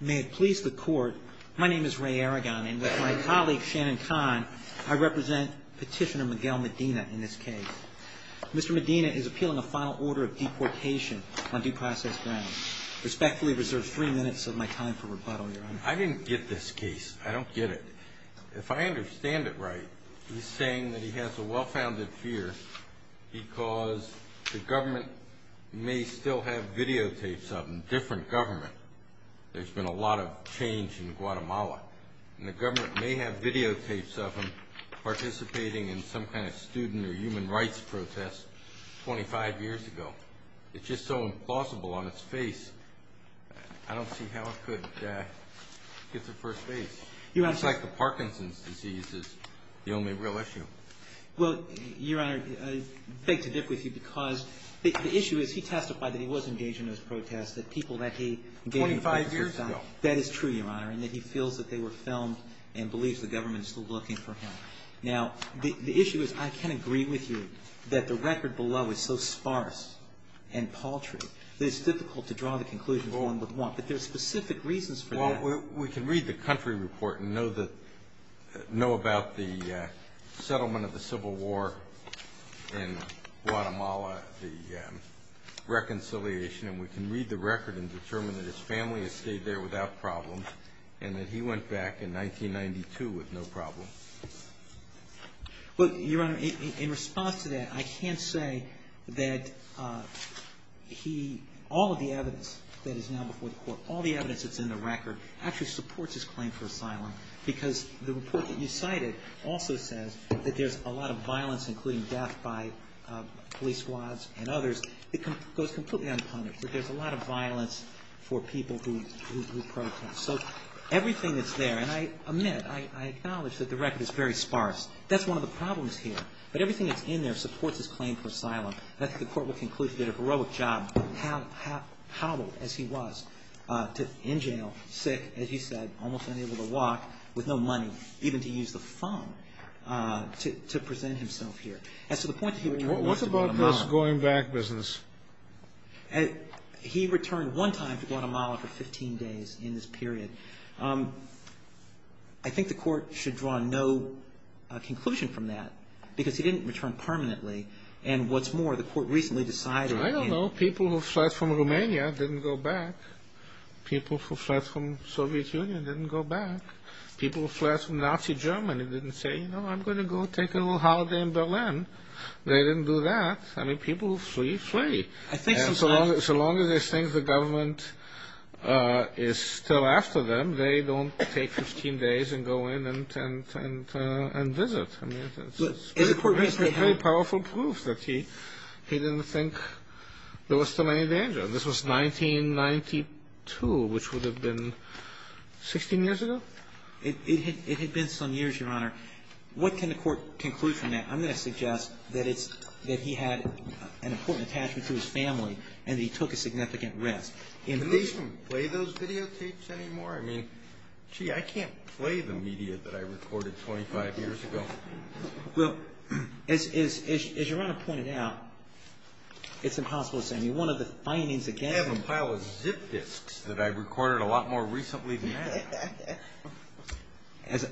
May it please the Court, my name is Ray Aragon, and with my colleague Shannon Kahn, I represent Petitioner Miguel Medina in this case. Mr. Medina is appealing a final order of deportation on due process grounds. Respectfully reserve three minutes of my time for rebuttal, Your Honor. I didn't get this case. I don't get it. If I understand it right, he's saying that he has a well-founded fear because the government may still have videotapes of him, different government. There's been a lot of change in Guatemala, and the government may have videotapes of him participating in some kind of student or human rights protest 25 years ago. It's just so implausible on its face. I don't see how it could get the first base. It's like the Parkinson's disease is the only real issue. Well, Your Honor, I beg to differ with you because the issue is he testified that he was engaged in those protests, that people that he engaged in those protests were filmed. 25 years ago. That is true, Your Honor, and that he feels that they were filmed and believes the government is still looking for him. Now, the issue is I can agree with you that the record below is so sparse and paltry that it's difficult to draw the conclusion one would want, but there's specific reasons for that. We can read the country report and know about the settlement of the Civil War in Guatemala, the reconciliation, and we can read the record and determine that his family has stayed there without problem and that he went back in 1992 with no problem. Well, Your Honor, in response to that, I can't say that he, all of the evidence that is now before the court, all the evidence that's in the record actually supports his claim for asylum because the report that you cited also says that there's a lot of violence, including death by police squads and others, that goes completely unpunished, that there's a lot of violence for people who protest. So everything that's there, and I admit, I acknowledge that the record is very sparse. That's one of the problems here. But everything that's in there supports his claim for asylum. I think the court will conclude he did a heroic job, howled as he was, in jail, sick, as you said, almost unable to walk, with no money, even to use the phone, to present himself here. And so the point that he returned was to Guatemala. What about this going back business? He returned one time to Guatemala for 15 days in this period. I think the court should draw no conclusion from that because he didn't return permanently. And what's more, the court recently decided... I don't know. People who fled from Romania didn't go back. People who fled from Soviet Union didn't go back. People who fled from Nazi Germany didn't say, you know, I'm going to go take a little holiday in Berlin. They didn't do that. I mean, people who flee, flee. And so long as they think the government is still after them, they don't take 15 days and go in and visit. I mean, it's very powerful proof that he didn't think there was still any danger. This was 1992, which would have been 16 years ago. It had been some years, Your Honor. What can the court conclude from that? I'm going to suggest that he had an important attachment to his family and that he took a significant risk. Can they even play those videotapes anymore? I mean, gee, I can't play the media that I recorded 25 years ago. Well, as Your Honor pointed out, it's impossible to say. I mean, one of the findings again... I have a pile of zip disks that I recorded a lot more recently than that.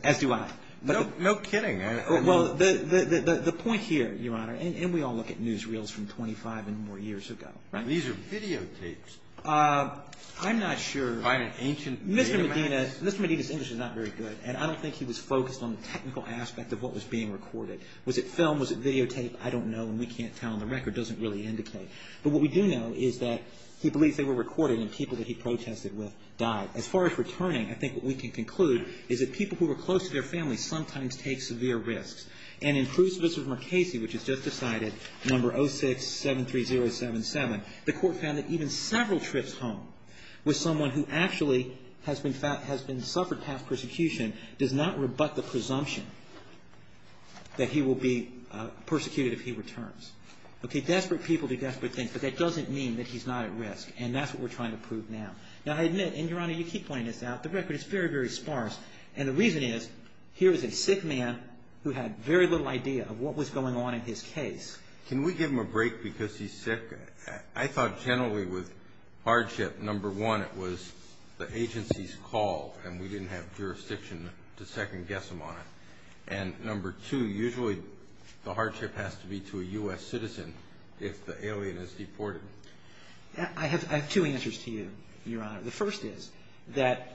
As do I. No kidding. Well, the point here, Your Honor, and we all look at newsreels from 25 and more years ago. These are videotapes. I'm not sure. By an ancient datamax. Mr. Medina's English is not very good, and I don't think he was focused on the technical aspect of what was being recorded. Was it film? Was it videotape? I don't know, and we can't tell. The record doesn't really indicate. But what we do know is that he believes they were recorded, and people that he protested with died. As far as returning, I think what we can conclude is that people who are close to their family sometimes take severe risks. And in Cruz v. Marchesi, which was just decided, No. 0673077, the court found that even several trips home with someone who actually has been suffered past persecution does not rebut the presumption that he will be persecuted if he returns. Okay, desperate people do desperate things, but that doesn't mean that he's not at risk, and that's what we're trying to prove now. Now, I admit, and, Your Honor, you keep pointing this out, the record is very, very sparse. And the reason is here is a sick man who had very little idea of what was going on in his case. Can we give him a break because he's sick? I thought generally with hardship, No. 1, it was the agency's call, and we didn't have jurisdiction to second-guess him on it. And No. 2, usually the hardship has to be to a U.S. citizen if the alien is deported. I have two answers to you, Your Honor. The first is that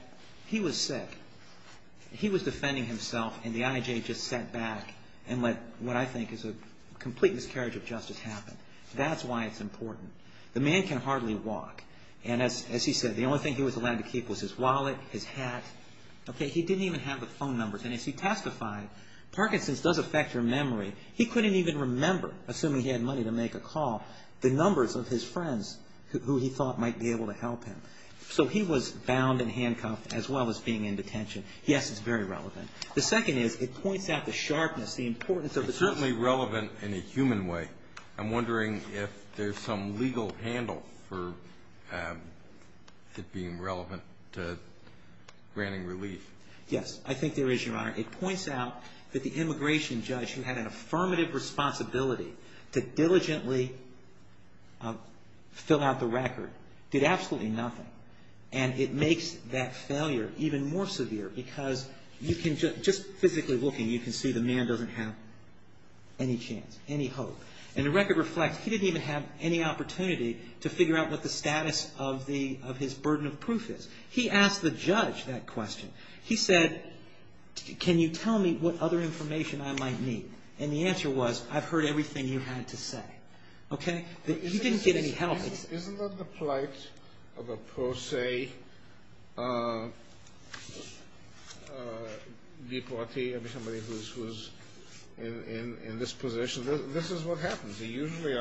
he was sick. He was defending himself, and the I.I.J. just sat back and let what I think is a complete miscarriage of justice happen. That's why it's important. The man can hardly walk. And as he said, the only thing he was allowed to keep was his wallet, his hat. Okay, he didn't even have the phone numbers. And as he testified, Parkinson's does affect your memory. He couldn't even remember, assuming he had money to make a call, the numbers of his friends who he thought might be able to help him. So he was bound and handcuffed as well as being in detention. Yes, it's very relevant. The second is it points out the sharpness, the importance of the person. It's certainly relevant in a human way. I'm wondering if there's some legal handle for it being relevant to granting relief. Yes, I think there is, Your Honor. It points out that the immigration judge who had an affirmative responsibility to diligently fill out the record did absolutely nothing. And it makes that failure even more severe because just physically looking, you can see the man doesn't have any chance, any hope. And the record reflects he didn't even have any opportunity to figure out what the status of his burden of proof is. He asked the judge that question. He said, can you tell me what other information I might need? And the answer was, I've heard everything you had to say. Okay? He didn't get any help. Isn't that the plight of a pro se deportee, somebody who's in this position? This is what happens. You usually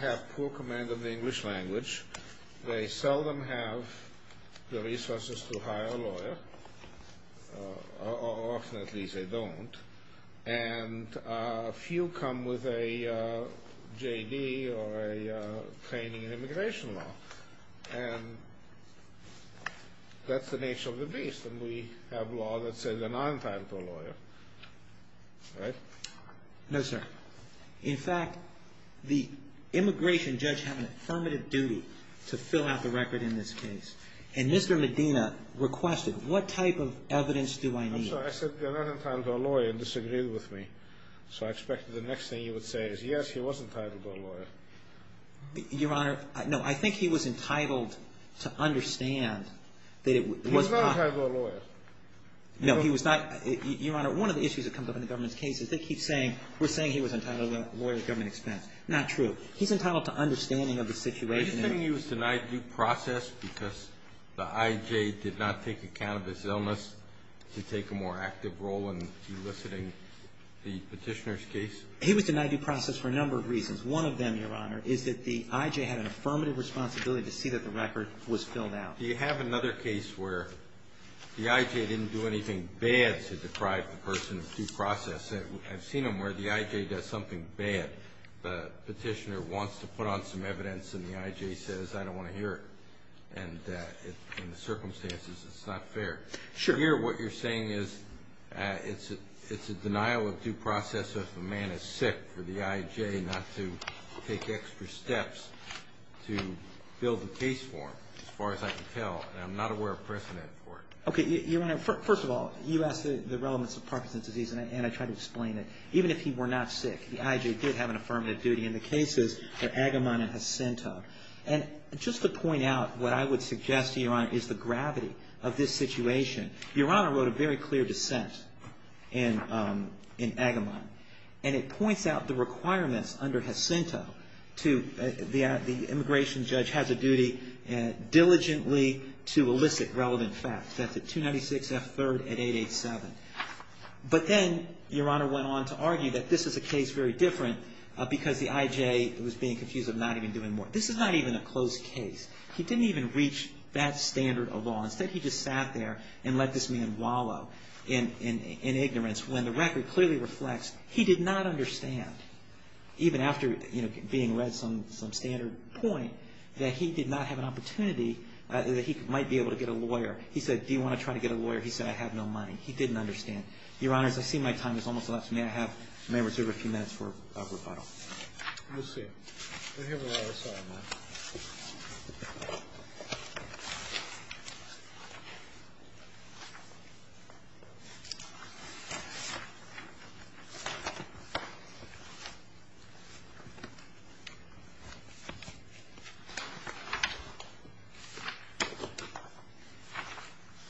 have poor command of the English language. They seldom have the resources to hire a lawyer, or often at least they don't. And few come with a JD or a training in immigration law. And that's the nature of the beast. And we have law that says they're not entitled to a lawyer. Right? No, sir. In fact, the immigration judge had an affirmative duty to fill out the record in this case. And Mr. Medina requested, what type of evidence do I need? I'm sorry, I said they're not entitled to a lawyer and disagreed with me. So I expected the next thing you would say is, yes, he was entitled to a lawyer. Your Honor, no, I think he was entitled to understand that it was not. He was not entitled to a lawyer. No, he was not. Your Honor, one of the issues that comes up in the government's case is they keep saying we're saying he was entitled to a lawyer at government expense. Not true. He's entitled to understanding of the situation. Are you saying he was denied due process because the IJ did not take account of his illness to take a more active role in eliciting the petitioner's case? He was denied due process for a number of reasons. One of them, Your Honor, is that the IJ had an affirmative responsibility to see that the record was filled out. Do you have another case where the IJ didn't do anything bad to deprive the person of due process? I've seen them where the IJ does something bad. The petitioner wants to put on some evidence and the IJ says, I don't want to hear it. And in the circumstances, it's not fair. Sure. But here what you're saying is it's a denial of due process if a man is sick for the IJ not to take extra steps to build a case form, as far as I can tell. And I'm not aware of precedent for it. Okay. Your Honor, first of all, you asked the relevance of Parkinson's disease, and I tried to explain it. Even if he were not sick, the IJ did have an affirmative duty. And the case is for Agamon and Jacinto. And just to point out what I would suggest to you, Your Honor, is the gravity of this situation. Your Honor wrote a very clear dissent in Agamon, and it points out the requirements under Jacinto to the immigration judge has a duty diligently to elicit relevant facts. That's at 296 F. 3rd and 887. But then Your Honor went on to argue that this is a case very different because the IJ was being confused of not even doing more. This is not even a closed case. He didn't even reach that standard of law. Instead, he just sat there and let this man wallow in ignorance when the record clearly reflects he did not understand, even after being read some standard point, that he did not have an opportunity that he might be able to get a lawyer. He said, do you want to try to get a lawyer? He said, I have no money. He didn't understand. Your Honor, as I see my time is almost up, may I have members who have a few minutes for rebuttal? We'll see. Here we are. Sorry, ma'am.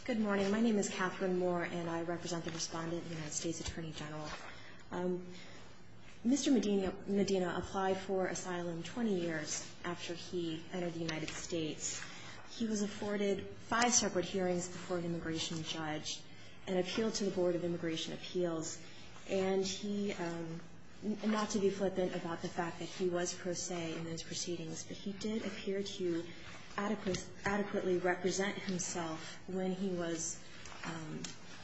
Good morning. My name is Catherine Moore, and I represent the Respondent of the United States Attorney General. Mr. Medina applied for asylum 20 years after he entered the United States. He was afforded five separate hearings before an immigration judge and appealed to the Board of Immigration Appeals. And he, not to be flippant about the fact that he was pro se in those proceedings, but he did appear to adequately represent himself when he was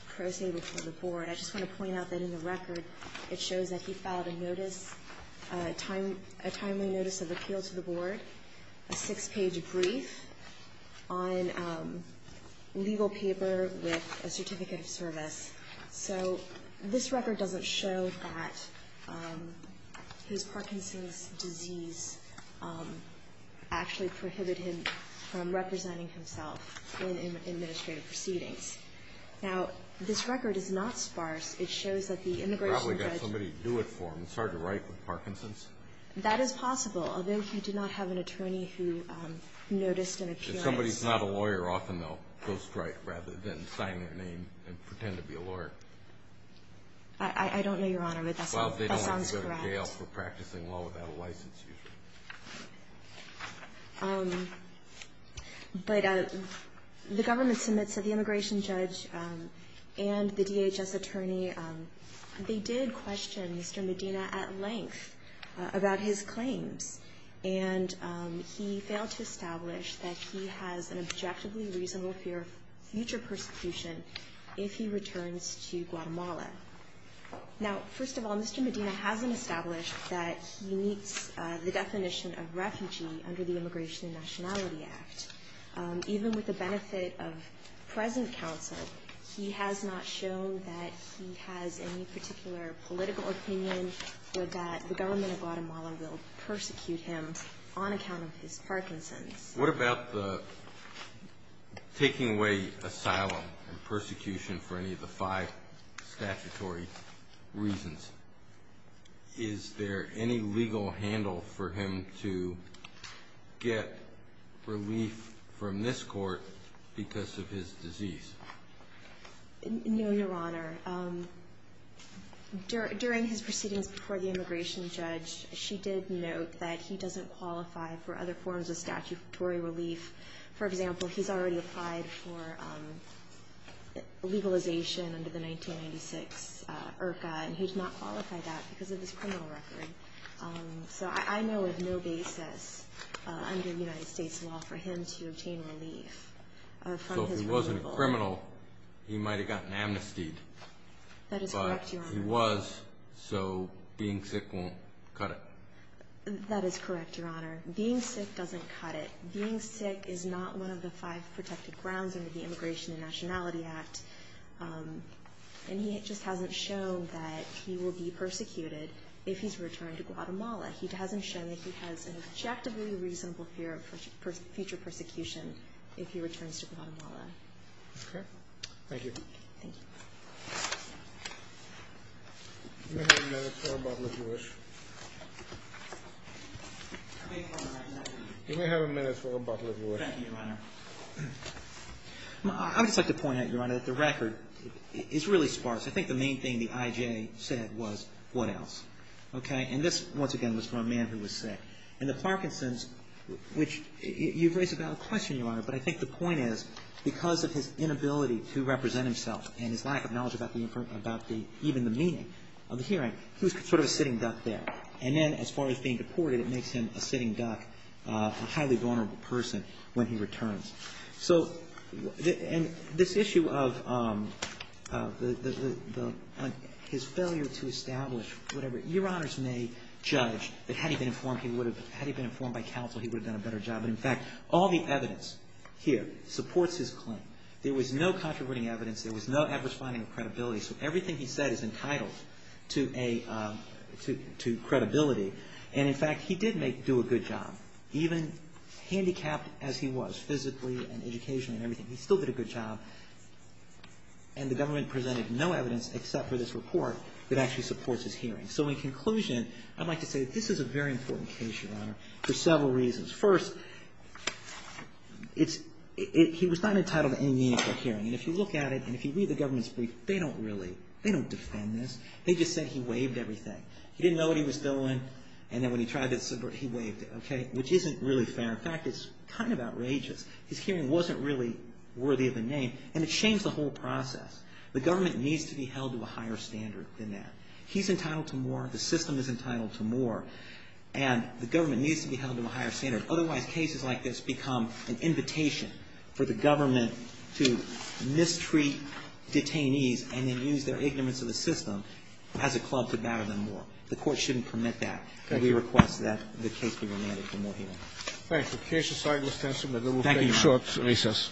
pro se before the board. I just want to point out that in the record, it shows that he filed a notice, a timely notice of appeal to the board, a six-page brief on legal paper with a certificate of service. So this record doesn't show that his Parkinson's disease actually prohibited him from representing himself in administrative proceedings. Now, this record is not sparse. It shows that the immigration judge ---- He probably got somebody to do it for him. It's hard to write with Parkinson's. That is possible, although he did not have an attorney who noticed an appearance. If somebody's not a lawyer, often they'll go straight rather than sign their name and pretend to be a lawyer. I don't know, Your Honor, but that sounds correct. Well, they don't have to go to jail for practicing law without a license usually. But the government submits to the immigration judge and the DHS attorney. They did question Mr. Medina at length about his claims, and he failed to establish that he has an objectively reasonable fear of future persecution if he returns to Guatemala. Now, first of all, Mr. Medina hasn't established that he meets the definition of refugee under the Immigration and Nationality Act. Even with the benefit of present counsel, he has not shown that he has any particular political opinion or that the government of Guatemala will persecute him on account of his Parkinson's. What about the taking away asylum and persecution for any of the five statutory reasons? Is there any legal handle for him to get relief from this court because of his disease? No, Your Honor. During his proceedings before the immigration judge, she did note that he doesn't qualify for other forms of statutory relief. For example, he's already applied for legalization under the 1996 IRCA, and he did not qualify that because of his criminal record. So I know of no basis under United States law for him to obtain relief from his criminal record. So he might have gotten amnestied. That is correct, Your Honor. But he was, so being sick won't cut it. That is correct, Your Honor. Being sick doesn't cut it. Being sick is not one of the five protected grounds under the Immigration and Nationality Act. And he just hasn't shown that he will be persecuted if he's returned to Guatemala. He hasn't shown that he has an objectively reasonable fear of future persecution if he returns to Guatemala. Okay. Thank you. Thank you. You may have a minute or a bottle if you wish. You may have a minute or a bottle if you wish. Thank you, Your Honor. I would just like to point out, Your Honor, that the record is really sparse. I think the main thing the IJ said was, what else? Okay. And this, once again, was from a man who was sick. And the Parkinson's, which you've raised a valid question, Your Honor, but I think the point is because of his inability to represent himself and his lack of knowledge about the inferent, about the, even the meaning of the hearing, he was sort of a sitting duck there. And then as far as being deported, it makes him a sitting duck, a highly vulnerable person when he returns. So, and this issue of the, his failure to establish whatever, Your Honors may judge that had he been informed, he would have, had he been informed by counsel, he would have done a better job. But in fact, all the evidence here supports his claim. There was no contributing evidence. There was no adverse finding of credibility. So everything he said is entitled to a, to credibility. And in fact, he did make, do a good job. Even handicapped as he was, physically and educationally and everything, he still did a good job. And the government presented no evidence except for this report that actually supports his hearing. So in conclusion, I'd like to say that this is a very important case, Your Honor, for several reasons. First, it's, it, he was not entitled to any meaningful hearing. And if you look at it and if you read the government's brief, they don't really, they don't defend this. They just said he waived everything. He didn't know what he was doing. And then when he tried to, he waived it. Okay? Which isn't really fair. In fact, it's kind of outrageous. His hearing wasn't really worthy of a name. And it changed the whole process. The government needs to be held to a higher standard than that. He's entitled to more. The system is entitled to more. And the government needs to be held to a higher standard. Otherwise, cases like this become an invitation for the government to mistreat detainees and then use their ignorance of the system as a club to batter them more. The Court shouldn't permit that. And we request that the case be remanded for more hearing. Thank you. The case aside, Mr. Ensign, we'll take a short recess. Thank you, Your Honor.